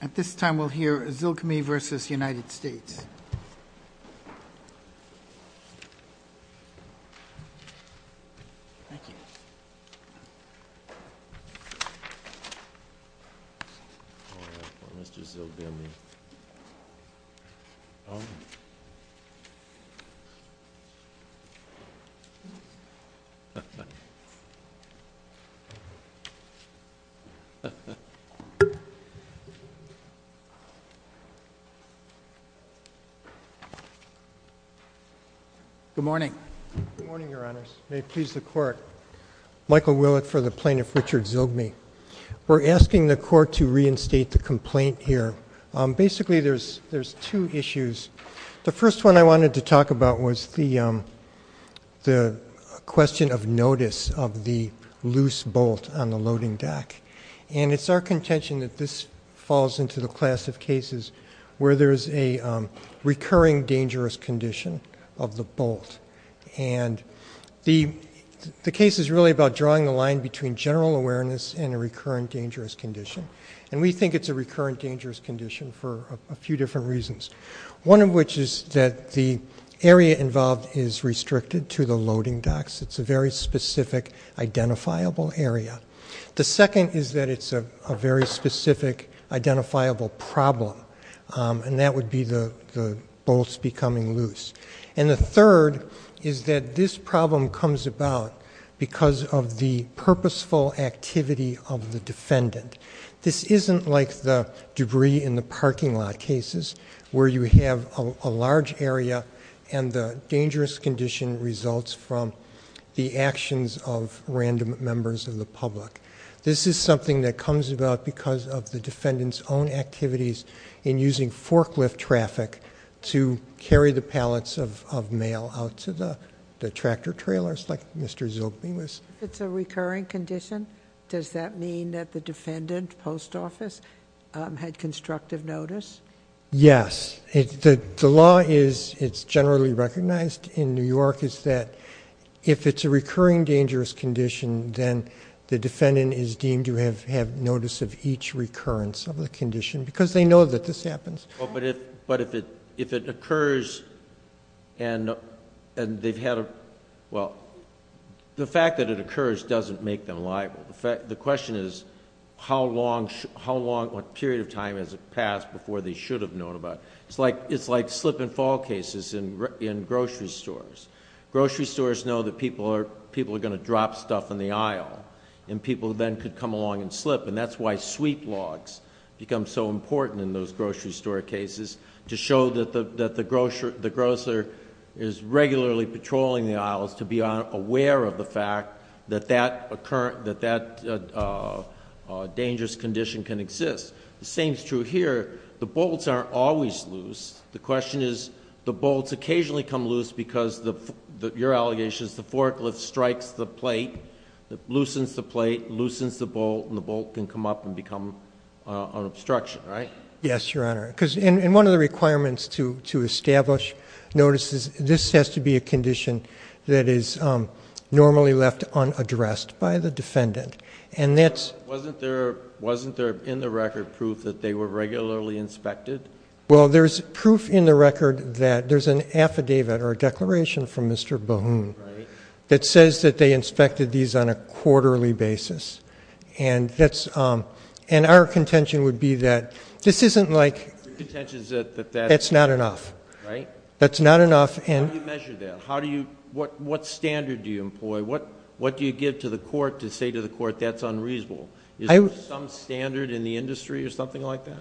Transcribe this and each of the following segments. At this time we'll hear Zilgme v. United States. Michael Willett for the Plaintiff Richard Zilgme. We're asking the court to reinstate the complaint here. Basically there's two issues. The first one I wanted to talk about was the question of notice of the loose bolt on the loading deck. And it's our contention that this falls into the class of cases where there's a recurring dangerous condition of the bolt. And the case is really about drawing the line between general awareness and a recurring dangerous condition. And we think it's a recurring dangerous condition for a few different reasons. One of which is that the area involved is restricted to the loading decks. It's a very specific identifiable area. The second is that it's a very specific identifiable problem. And that would be the bolts becoming loose. And the third is that this problem comes about because of the purposeful activity of the defendant. This isn't like the debris in the parking lot cases where you have a large area and the dangerous condition results from the actions of random members of the public. This is something that comes about because of the defendant's own activities in using forklift traffic to carry the pallets of mail out to the tractor trailers like Mr. Zilgme was. It's a recurring condition? Does that mean that the defendant, post office, had constructive notice? Yes. The law is, it's generally recognized in New York, is that if it's a recurring dangerous condition, then the defendant is deemed to have notice of each recurrence of the condition. Because they know that this happens. But if it occurs and they've had a... well, the fact that it occurs doesn't make them liable. The question is how long, what period of time has it passed before they should have known about it? It's like slip and fall cases in grocery stores. Grocery stores know that people are going to drop stuff in the aisle and people then could come along and slip. That's why sweep logs become so important in those grocery store cases to show that the grocer is regularly patrolling the aisles to be aware of the fact that that dangerous condition can exist. The same is true here. The bolts aren't always loose. The question is, the bolts occasionally come loose because, your allegation is, the forklift strikes the plate, loosens the plate, loosens the bolt, and the bolt can come up and become an obstruction, right? Yes, Your Honor. And one of the requirements to establish notice is this has to be a condition that is normally left unaddressed by the defendant. Wasn't there in the record proof that they were regularly inspected? Well, there's proof in the record that there's an affidavit or a declaration from Mr. Bahoon that says that they inspected these on a quarterly basis. And our contention would be that this isn't like, that's not enough. That's not enough. How do you measure that? What standard do you employ? What do you give to the court to say to the court, that's unreasonable? Is there some standard in the industry or something like that?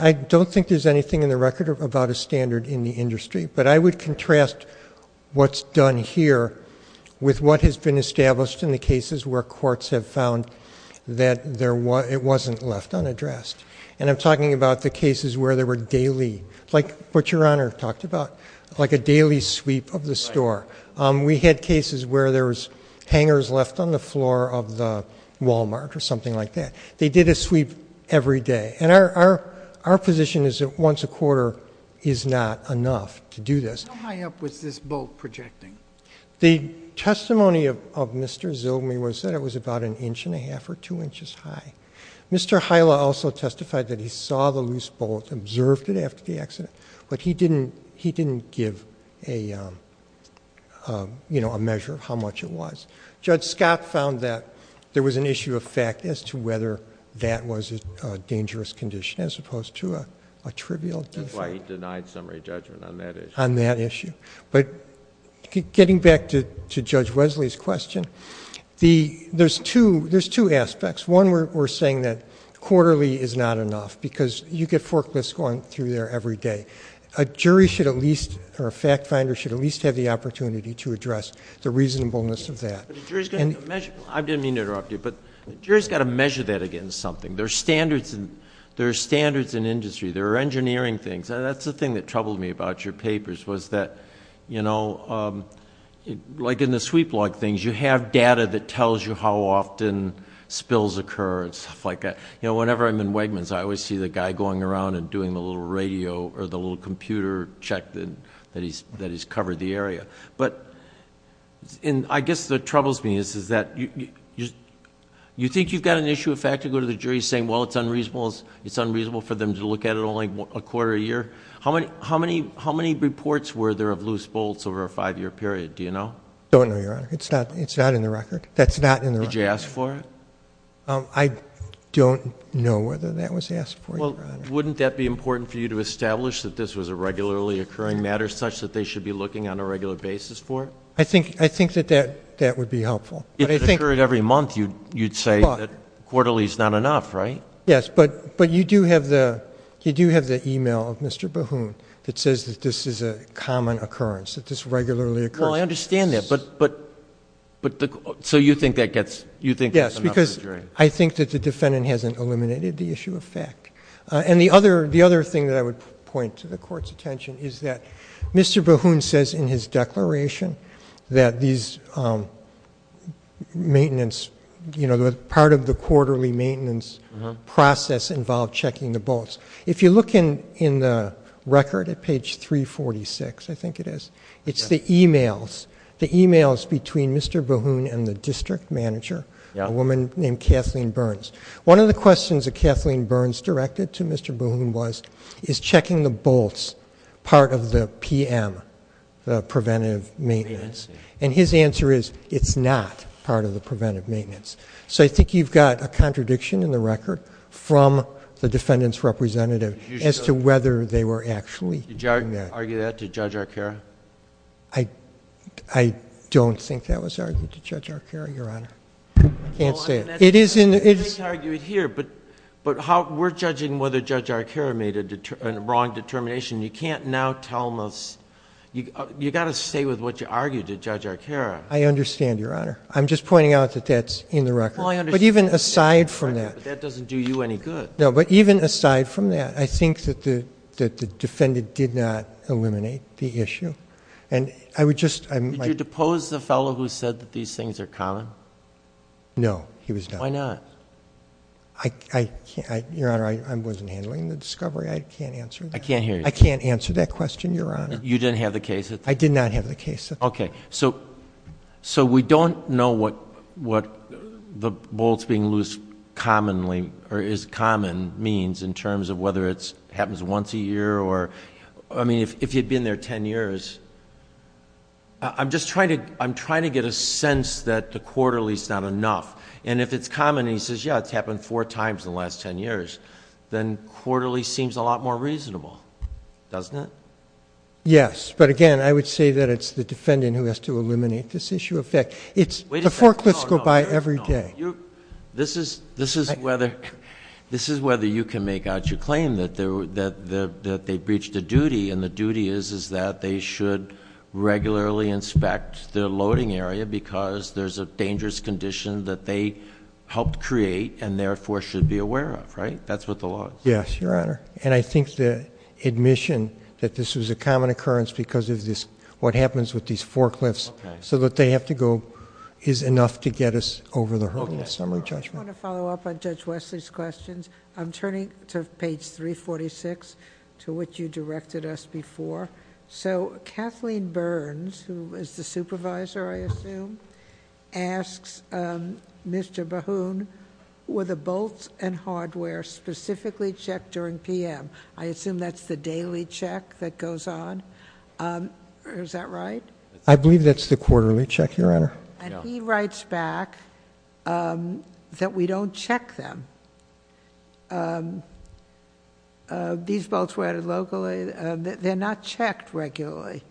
I don't think there's anything in the record about a standard in the industry. But I would contrast what's done here with what has been established in the cases where courts have found that it wasn't left unaddressed. And I'm talking about the cases where there were daily, like what Your Honor talked about, like a daily sweep of the store. We had cases where there was hangers left on the floor of the Walmart or something like that. They did a sweep every day. And our position is that once a quarter is not enough to do this. How high up was this bolt projecting? The testimony of Mr. Zilme was that it was about an inch and a half or two inches high. Mr. Hila also testified that he saw the loose bolt, observed it after the accident. But he didn't give a measure of how much it was. Judge Scott found that there was an issue of fact as to whether that was a dangerous condition as opposed to a trivial issue. That's why he denied summary judgment on that issue. On that issue. But getting back to Judge Wesley's question, there's two aspects. One, we're saying that quarterly is not enough because you get forklifts going through there every day. A jury should at least, or a fact finder should at least have the opportunity to address the reasonableness of that. And- I didn't mean to interrupt you, but a jury's got to measure that against something. There are standards in industry. There are engineering things. That's the thing that troubled me about your papers was that, like in the sweep log things, you have data that tells you how often spills occur and stuff like that. Whenever I'm in Wegmans, I always see the guy going around and doing the little radio or the little computer check that he's covered the area. But I guess what troubles me is that you think you've got an issue of fact to go to the jury saying, well, it's unreasonable for them to look at it only a quarter of a year. How many reports were there of loose bolts over a five year period, do you know? I don't know, Your Honor. It's not in the record. That's not in the record. Did you ask for it? I don't know whether that was asked for, Your Honor. Wouldn't that be important for you to establish that this was a regularly occurring matter such that they should be looking on a regular basis for it? I think that that would be helpful. If it occurred every month, you'd say that quarterly's not enough, right? Yes, but you do have the email of Mr. Bahoon that says that this is a common occurrence, that this regularly occurs. Well, I understand that, but so you think that's enough for the jury? Yes, because I think that the defendant hasn't eliminated the issue of fact. And the other thing that I would point to the court's attention is that Mr. Bahoon says in his declaration that these maintenance, part of the quarterly maintenance process involved checking the bolts. If you look in the record at page 346, I think it is. It's the emails, the emails between Mr. Bahoon and the district manager, a woman named Kathleen Burns. One of the questions that Kathleen Burns directed to Mr. Bahoon was, is checking the bolts part of the PM, the preventive maintenance. And his answer is, it's not part of the preventive maintenance. So I think you've got a contradiction in the record from the defendant's representative as to whether they were actually doing that. Argue that to Judge Arcaro? I don't think that was argued to Judge Arcaro, Your Honor. I can't say it. It is in the- I think they argue it here, but we're judging whether Judge Arcaro made a wrong determination. You can't now tell us, you gotta stay with what you argued to Judge Arcaro. I understand, Your Honor. I'm just pointing out that that's in the record. But even aside from that- But that doesn't do you any good. No, but even aside from that, I think that the defendant did not eliminate the issue. And I would just- Did you depose the fellow who said that these things are common? No, he was not. Why not? I can't, Your Honor, I wasn't handling the discovery. I can't answer that. I can't hear you. I can't answer that question, Your Honor. I did not have the case at the time. Okay, so we don't know what the bolts being loose commonly or is common means in terms of whether it happens once a year or, I mean, if you'd been there ten years. I'm just trying to get a sense that the quarterly's not enough. And if it's common, he says, yeah, it's happened four times in the last ten years. Then quarterly seems a lot more reasonable, doesn't it? Yes, but again, I would say that it's the defendant who has to eliminate this issue. In fact, the forklifts go by every day. This is whether you can make out your claim that they breached a duty. And the duty is that they should regularly inspect their loading area because there's a dangerous condition that they helped create and therefore should be aware of, right? That's what the law is. Yes, Your Honor. And I think the admission that this was a common occurrence because of what happens with these forklifts. So that they have to go is enough to get us over the hurdle. Summary judgment. I just want to follow up on Judge Wesley's questions. I'm turning to page 346, to which you directed us before. So Kathleen Burns, who is the supervisor, I assume, asks Mr. Bahoon, were the bolts and bolts added locally at 10 PM, I assume that's the daily check that goes on, is that right? I believe that's the quarterly check, Your Honor. And he writes back that we don't check them. These bolts were added locally, they're not checked regularly.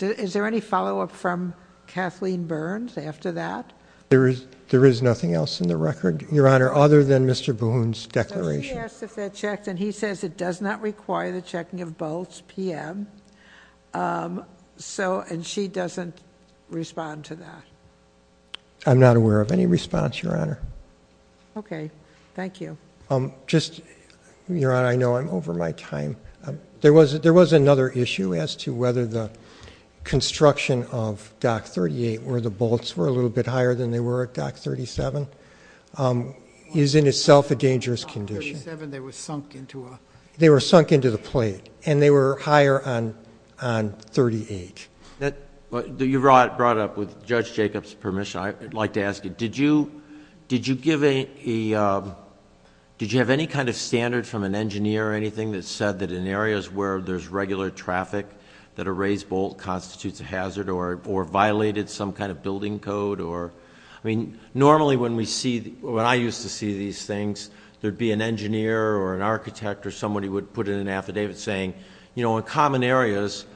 Is there any follow up from Kathleen Burns after that? There is nothing else in the record, Your Honor, other than Mr. Bahoon's declaration. He asked if that checked, and he says it does not require the checking of bolts PM, and she doesn't respond to that. I'm not aware of any response, Your Honor. Okay, thank you. Just, Your Honor, I know I'm over my time. There was another issue as to whether the construction of Dock 38, where the bolts were a little bit higher than they were at Dock 37, is in itself a dangerous condition. They were sunk into the plate, and they were higher on 38. You brought it up with Judge Jacob's permission. I'd like to ask you, did you have any kind of standard from an engineer or anything that said that in areas where there's regular traffic that a raised bolt constitutes a hazard or violated some kind of building code? I mean, normally when I used to see these things, there'd be an engineer or an architect or somebody would put in an affidavit saying, in common areas,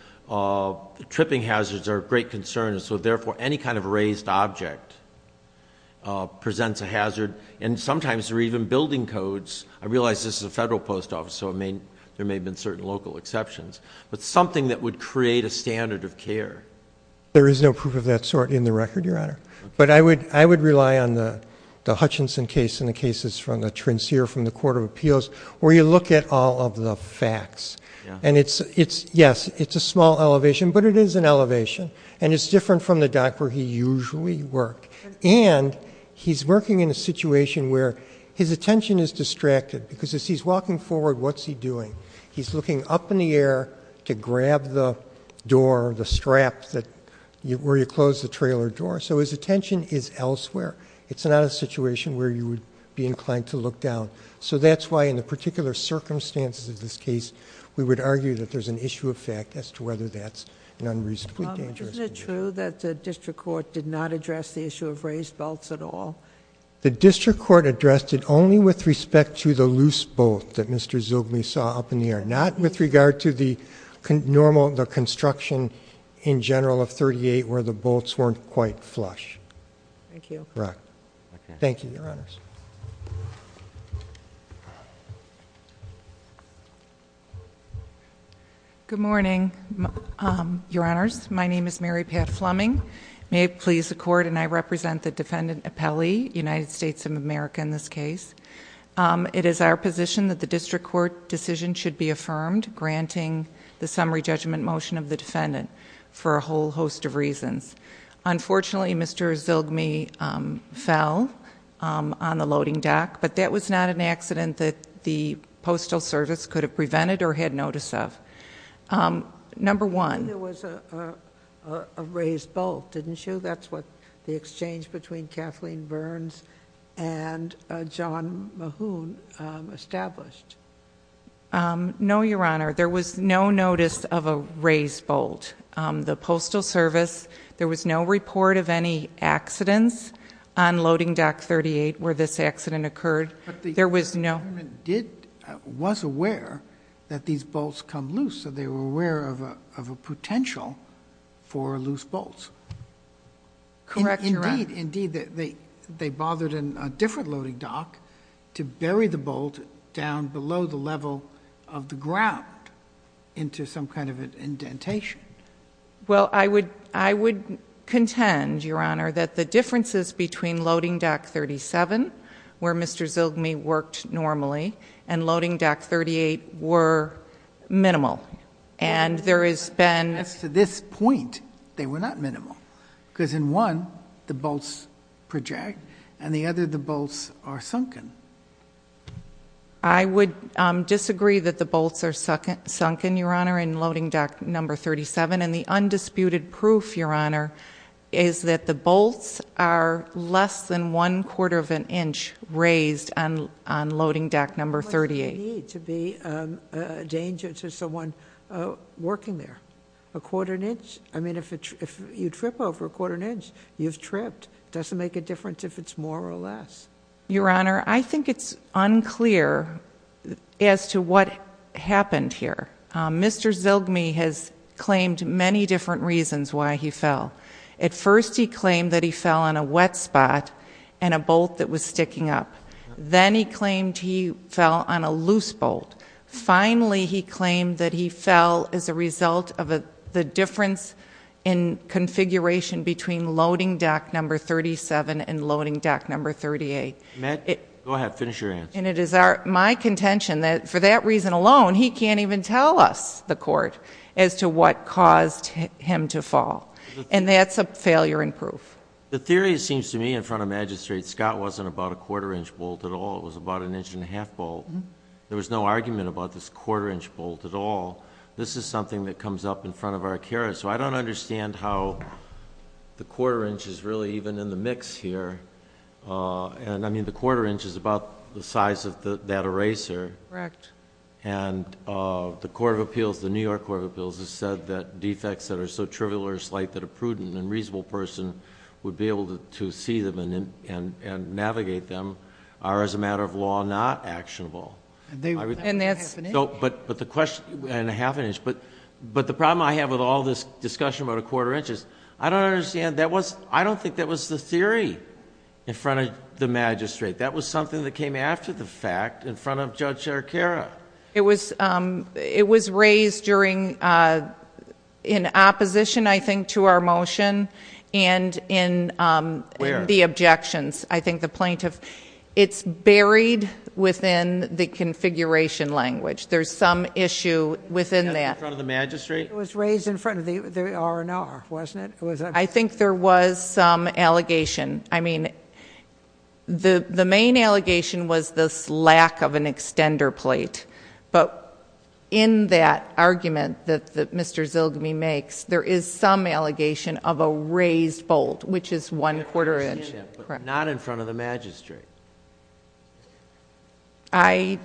tripping hazards are a great concern, and so therefore any kind of raised object presents a hazard. And sometimes they're even building codes. I realize this is a federal post office, so there may have been certain local exceptions. But something that would create a standard of care. There is no proof of that sort in the record, Your Honor. But I would rely on the Hutchinson case and the cases from the trincere from the Court of Appeals, where you look at all of the facts. And yes, it's a small elevation, but it is an elevation, and it's different from the dock where he usually worked. And he's working in a situation where his attention is distracted, because as he's walking forward, what's he doing? He's looking up in the air to grab the door, the strap where you close the trailer door. So his attention is elsewhere. It's not a situation where you would be inclined to look down. So that's why in the particular circumstances of this case, we would argue that there's an issue of fact as to whether that's an unreasonably dangerous- Isn't it true that the district court did not address the issue of raised bolts at all? The district court addressed it only with respect to the loose bolt that Mr. Zilgley saw up in the air. Not with regard to the construction in general of 38 where the bolts weren't quite flush. Thank you. Right. Thank you, Your Honors. Good morning, Your Honors. My name is Mary Pat Fleming. May it please the court and I represent the defendant Appelli, United States of America in this case. It is our position that the district court decision should be affirmed, granting the summary judgment motion of the defendant for a whole host of reasons. Unfortunately, Mr. Zilgley fell on the loading dock, but that was not an accident that the postal service could have prevented or had notice of. Number one- There was a raised bolt, didn't you? That's what the exchange between Kathleen Burns and John Mahoon established. No, Your Honor. There was no notice of a raised bolt. The postal service, there was no report of any accidents on loading dock 38 where this accident occurred. There was no- The government was aware that these bolts come loose, so they were aware of a potential for loose bolts. Correct, Your Honor. Indeed, they bothered a different loading dock to bury the bolt down below the level of the ground into some kind of an indentation. Well, I would contend, Your Honor, that the differences between loading dock 37, where Mr. Zilgley worked normally, and loading dock 38 were minimal. And there has been- As to this point, they were not minimal. Because in one, the bolts project, and the other, the bolts are sunken. I would disagree that the bolts are sunken, Your Honor, in loading dock number 37. And the undisputed proof, Your Honor, is that the bolts are less than one quarter of an inch raised on loading dock number 38. What's the need to be a danger to someone working there? A quarter of an inch? I mean, if you trip over a quarter of an inch, you've tripped. Doesn't make a difference if it's more or less. Your Honor, I think it's unclear as to what happened here. Mr. Zilgley has claimed many different reasons why he fell. At first, he claimed that he fell on a wet spot and a bolt that was sticking up. Then he claimed he fell on a loose bolt. Finally, he claimed that he fell as a result of the difference in configuration between loading dock number 37 and loading dock number 38. Go ahead, finish your answer. And it is my contention that for that reason alone, he can't even tell us, the court, as to what caused him to fall. And that's a failure in proof. The theory, it seems to me, in front of magistrates, Scott wasn't about a quarter inch bolt at all, it was about an inch and a half bolt. There was no argument about this quarter inch bolt at all. This is something that comes up in front of our carers. So I don't understand how the quarter inch is really even in the mix here. And I mean, the quarter inch is about the size of that eraser. Correct. And the court of appeals, the New York court of appeals, has said that defects that are so trivial or slight that a prudent and reasonable person would be able to see them and navigate them are, as a matter of law, not actionable. And that's- But the question, and a half an inch, but the problem I have with all this discussion about a quarter inch is, I don't understand, I don't think that was the theory in front of the magistrate. That was something that came after the fact in front of Judge Arcara. It was raised during, in opposition, I think, to our motion. And in the objections, I think the plaintiff. It's buried within the configuration language. There's some issue within that. In front of the magistrate? It was raised in front of the R&R, wasn't it? I think there was some allegation. I mean, the main allegation was this lack of an extender plate. But in that argument that Mr. Zilgamy makes, there is some allegation of a raised bolt, which is one quarter inch. Not in front of the magistrate. I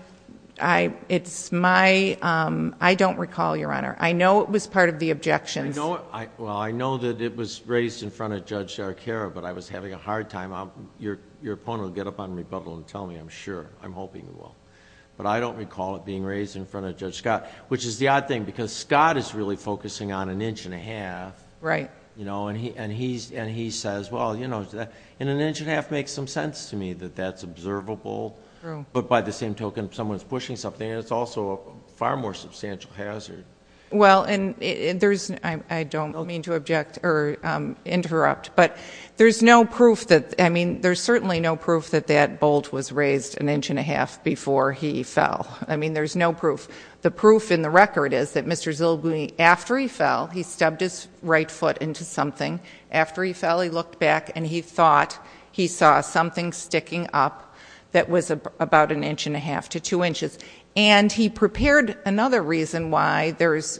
don't recall, Your Honor. I know it was part of the objections. Well, I know that it was raised in front of Judge Arcara, but I was having a hard time. Your opponent will get up on rebuttal and tell me, I'm sure. I'm hoping he will. But I don't recall it being raised in front of Judge Scott. Which is the odd thing, because Scott is really focusing on an inch and a half. And he says, well, an inch and a half makes some sense to me, that that's observable. But by the same token, if someone's pushing something, it's also a far more substantial hazard. Well, and I don't mean to interrupt, but there's no proof that, I mean, there's certainly no proof that that bolt was raised an inch and a half before he fell. I mean, there's no proof. The proof in the record is that Mr. Zilgamy, after he fell, he stubbed his right foot into something. After he fell, he looked back and he thought he saw something sticking up that was about an inch and a half to two inches. And he prepared, another reason why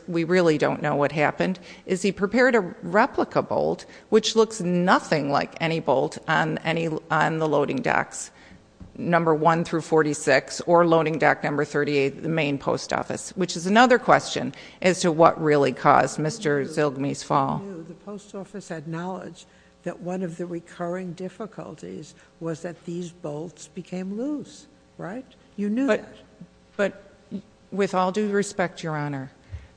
we really don't know what happened, is he prepared a replica bolt, which looks nothing like any bolt on the loading docks. Number one through 46, or loading dock number 38, the main post office. Which is another question as to what really caused Mr. Zilgamy's fall. The post office had knowledge that one of the recurring difficulties was that these bolts became loose, right? You knew that. But with all due respect, your honor,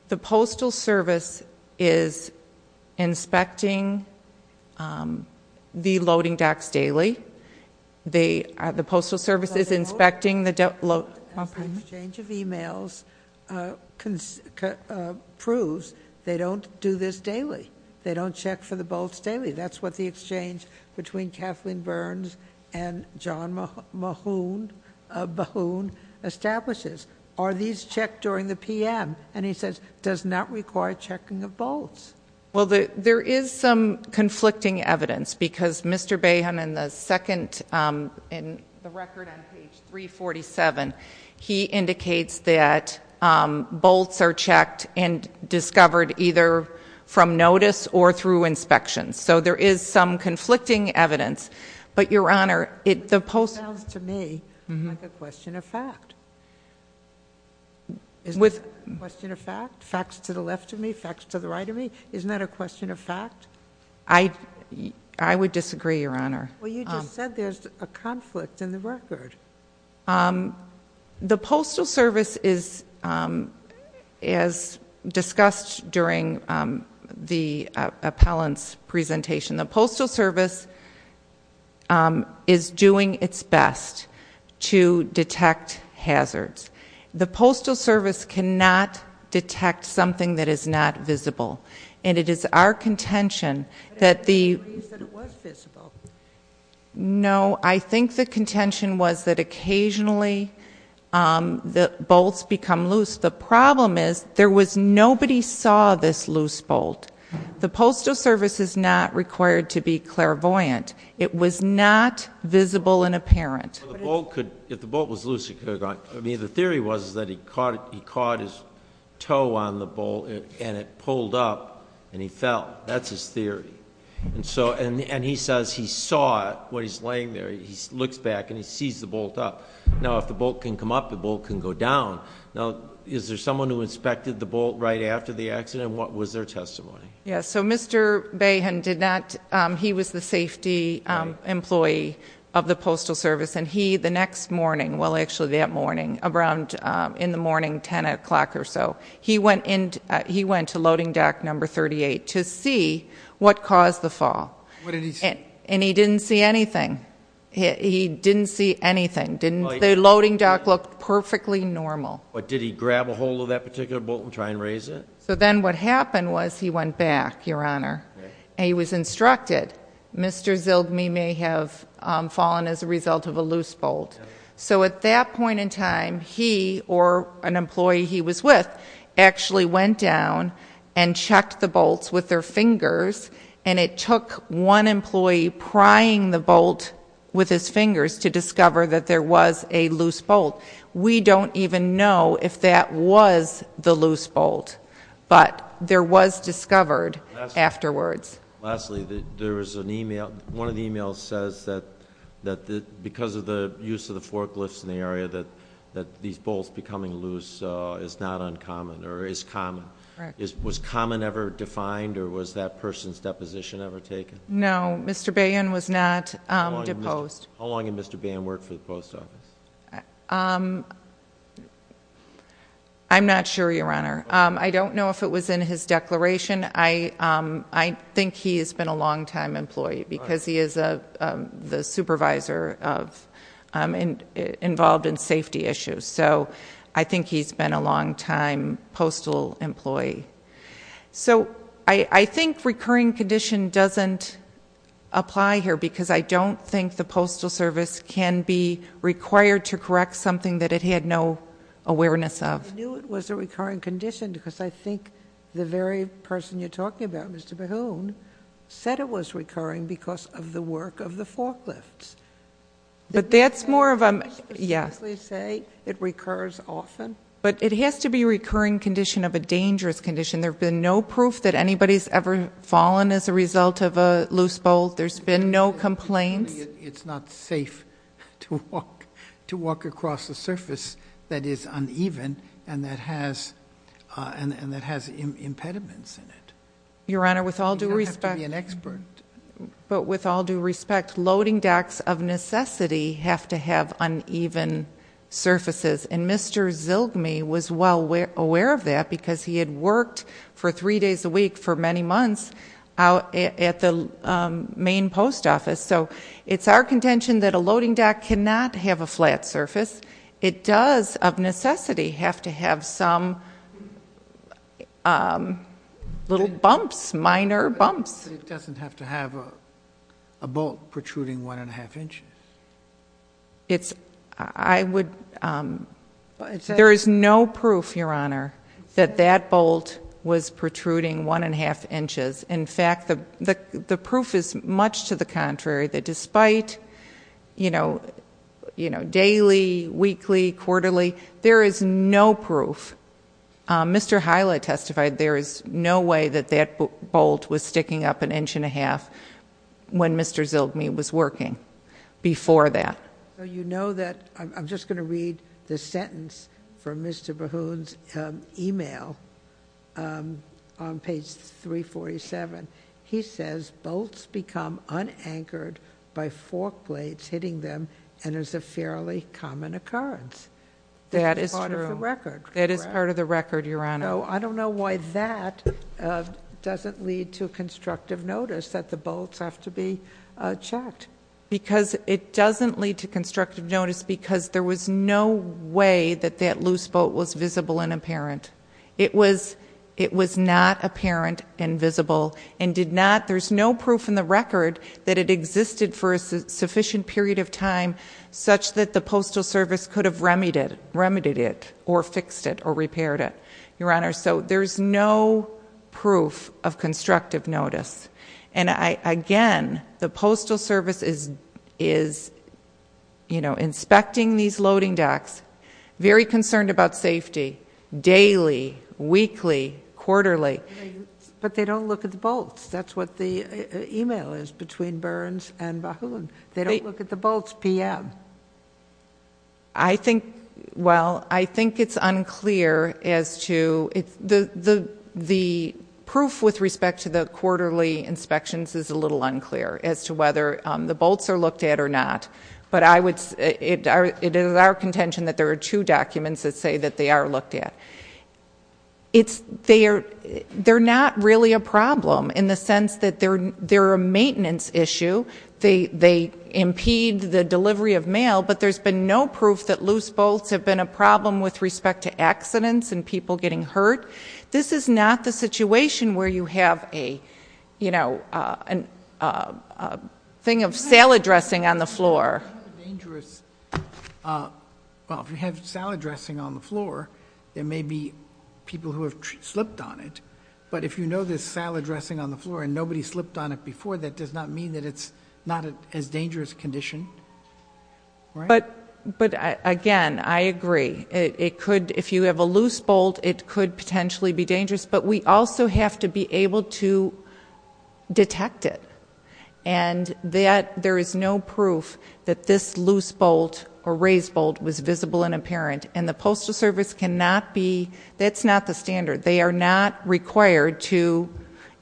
the postal service is inspecting the loading docks daily. The postal service is inspecting the- One moment. Exchange of emails proves they don't do this daily. They don't check for the bolts daily. That's what the exchange between Kathleen Burns and John Mahoon establishes. Are these checked during the PM? And he says, does not require checking of bolts. Well, there is some conflicting evidence, because Mr. Bayham in the second, in the record on page 347, he indicates that bolts are checked and discovered either from notice or through inspection. So there is some conflicting evidence. But your honor, the post- Sounds to me like a question of fact. Is it a question of fact? Facts to the left of me, facts to the right of me? Isn't that a question of fact? I would disagree, your honor. Well, you just said there's a conflict in the record. The postal service is, as discussed during the appellant's presentation, the postal service is doing its best to detect hazards. The postal service cannot detect something that is not visible. And it is our contention that the- But I didn't believe that it was visible. No, I think the contention was that occasionally the bolts become loose. The problem is, there was nobody saw this loose bolt. The postal service is not required to be clairvoyant. It was not visible and apparent. If the bolt was loose, it could have gone. I mean, the theory was that he caught his toe on the bolt and it pulled up and he fell. That's his theory. And he says he saw it, what he's laying there, he looks back and he sees the bolt up. Now, if the bolt can come up, the bolt can go down. Now, is there someone who inspected the bolt right after the accident? And what was their testimony? Yeah, so Mr. Bahan did not, he was the safety employee of the postal service. And he, the next morning, well, actually that morning, around in the morning, 10 o'clock or so. He went to loading dock number 38 to see what caused the fall. And he didn't see anything. He didn't see anything. The loading dock looked perfectly normal. But did he grab a hold of that particular bolt and try and raise it? So then what happened was he went back, Your Honor. And he was instructed, Mr. Zildjian may have fallen as a result of a loose bolt. So at that point in time, he, or an employee he was with, actually went down and checked the bolts with their fingers. And it took one employee prying the bolt with his fingers to discover that there was a loose bolt. We don't even know if that was the loose bolt. But there was discovered afterwards. Lastly, there was an email, one of the emails says that because of the use of the forklifts in the area, that these bolts becoming loose is not uncommon, or is common. Was common ever defined, or was that person's deposition ever taken? No, Mr. Bahan was not deposed. How long did Mr. Bahan work for the post office? I'm not sure, Your Honor. I don't know if it was in his declaration. I think he has been a long time employee, because he is the supervisor involved in safety issues. So I think he's been a long time postal employee. So I think recurring condition doesn't apply here, because I don't think the postal service can be required to correct something that it had no awareness of. I knew it was a recurring condition, because I think the very person you're talking about, Mr. Bahun, said it was recurring because of the work of the forklifts. But that's more of a, yeah. Did you specifically say it recurs often? But it has to be a recurring condition of a dangerous condition. There's been no proof that anybody's ever fallen as a result of a loose bolt. There's been no complaints. It's not safe to walk across a surface that is uneven and that has impediments in it. You don't have to be an expert. But with all due respect, loading decks of necessity have to have uneven surfaces. And Mr. Zilgme was well aware of that, because he had worked for the Maine Post Office, so it's our contention that a loading deck cannot have a flat surface. It does, of necessity, have to have some little bumps, minor bumps. It doesn't have to have a bolt protruding one and a half inches. It's, I would, there is no proof, Your Honor, that that bolt was protruding one and a half inches. In fact, the proof is much to the contrary, that despite daily, weekly, quarterly, there is no proof. Mr. Hila testified there is no way that that bolt was sticking up an inch and a half when Mr. Zilgme was working before that. So you know that, I'm just going to read the sentence from Mr. Bahoon's email on page 347. He says, bolts become unanchored by fork blades hitting them and is a fairly common occurrence. That is part of the record. That is part of the record, Your Honor. So I don't know why that doesn't lead to constructive notice that the bolts have to be checked. Because it doesn't lead to constructive notice because there was no way that that loose bolt was visible and apparent. It was not apparent and visible and did not, there's no proof in the record that it existed for a sufficient period of time such that the postal service could have remedied it or fixed it or repaired it, Your Honor. So there's no proof of constructive notice. And again, the postal service is inspecting these loading decks, very concerned about safety, daily, weekly, quarterly. But they don't look at the bolts. That's what the email is between Burns and Bahoon. They don't look at the bolts PM. I think, well, I think it's unclear as to, the proof with respect to the quarterly inspections is a little unclear as to whether the bolts are looked at or not. But it is our contention that there are two documents that say that they are looked at. They're not really a problem in the sense that they're a maintenance issue. They impede the delivery of mail, but there's been no proof that loose bolts have been a problem with respect to accidents and people getting hurt, this is not the situation where you have a thing of salad dressing on the floor. Well, if you have salad dressing on the floor, there may be people who have slipped on it. But if you know there's salad dressing on the floor and nobody slipped on it before, that does not mean that it's not as dangerous a condition, right? But again, I agree. It could, if you have a loose bolt, it could potentially be dangerous. But we also have to be able to detect it. And that there is no proof that this loose bolt or raised bolt was visible and apparent. And the postal service cannot be, that's not the standard. They are not required to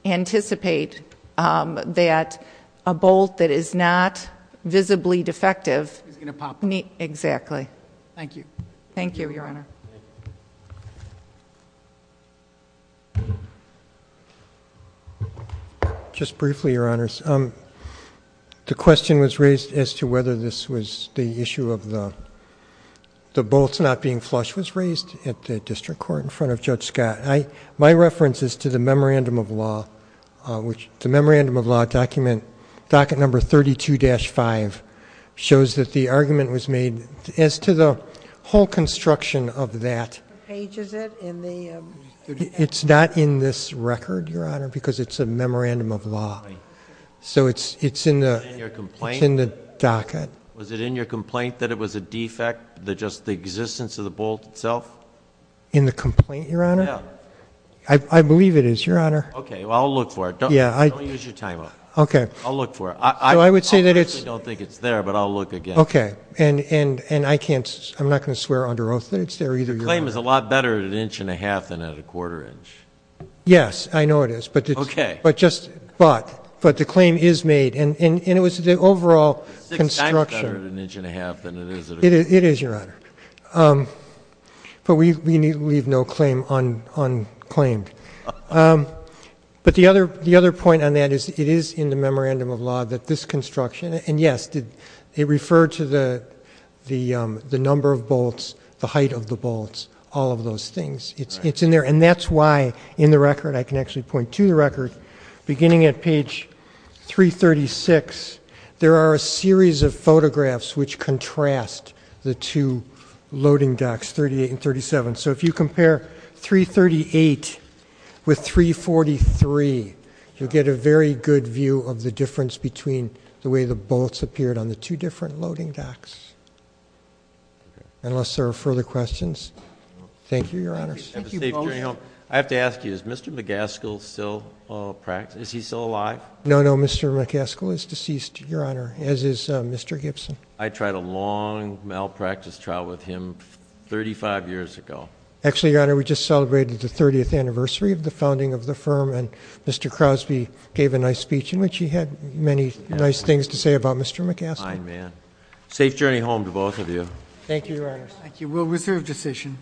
anticipate that a bolt that is not visibly defective. Is going to pop up. Exactly. Thank you. Thank you, your honor. Just briefly, your honors, the question was raised as to whether this was the issue of the bolts not being flushed was raised at the district court in front of Judge Scott. My reference is to the memorandum of law, which the memorandum of law document, docket number 32-5, shows that the argument was made as to the whole construction of that. Pages it in the- It's not in this record, your honor, because it's a memorandum of law. So it's in the docket. Was it in your complaint that it was a defect, just the existence of the bolt itself? In the complaint, your honor? Yeah. I believe it is, your honor. Okay, well I'll look for it. Don't use your time up. Okay. I'll look for it. I personally don't think it's there, but I'll look again. Okay, and I can't, I'm not going to swear under oath that it's there either, your honor. The claim is a lot better at an inch and a half than at a quarter inch. Yes, I know it is. Okay. But just, but the claim is made, and it was the overall construction. It's six times better at an inch and a half than it is at a quarter inch. It is, your honor, but we leave no claim unclaimed. But the other point on that is it is in the memorandum of law that this construction, and yes, it referred to the number of bolts, the height of the bolts, all of those things. It's in there. And that's why in the record, I can actually point to the record, beginning at page 336, there are a series of photographs which contrast the two loading docks, 38 and 37. So if you compare 338 with 343, you'll get a very good view of the difference between the way the bolts appeared on the two different loading docks. Unless there are further questions. Thank you, your honors. Thank you both. I have to ask you, is Mr. McGaskill still alive? No, no, Mr. McGaskill is deceased, your honor, as is Mr. Gibson. I tried a long malpractice trial with him 35 years ago. Actually, your honor, we just celebrated the 30th anniversary of the founding of the firm, and Mr. Crosby gave a nice speech in which he had many nice things to say about Mr. McGaskill. Fine man. Safe journey home to both of you. Thank you, your honors. Thank you. We'll reserve decision.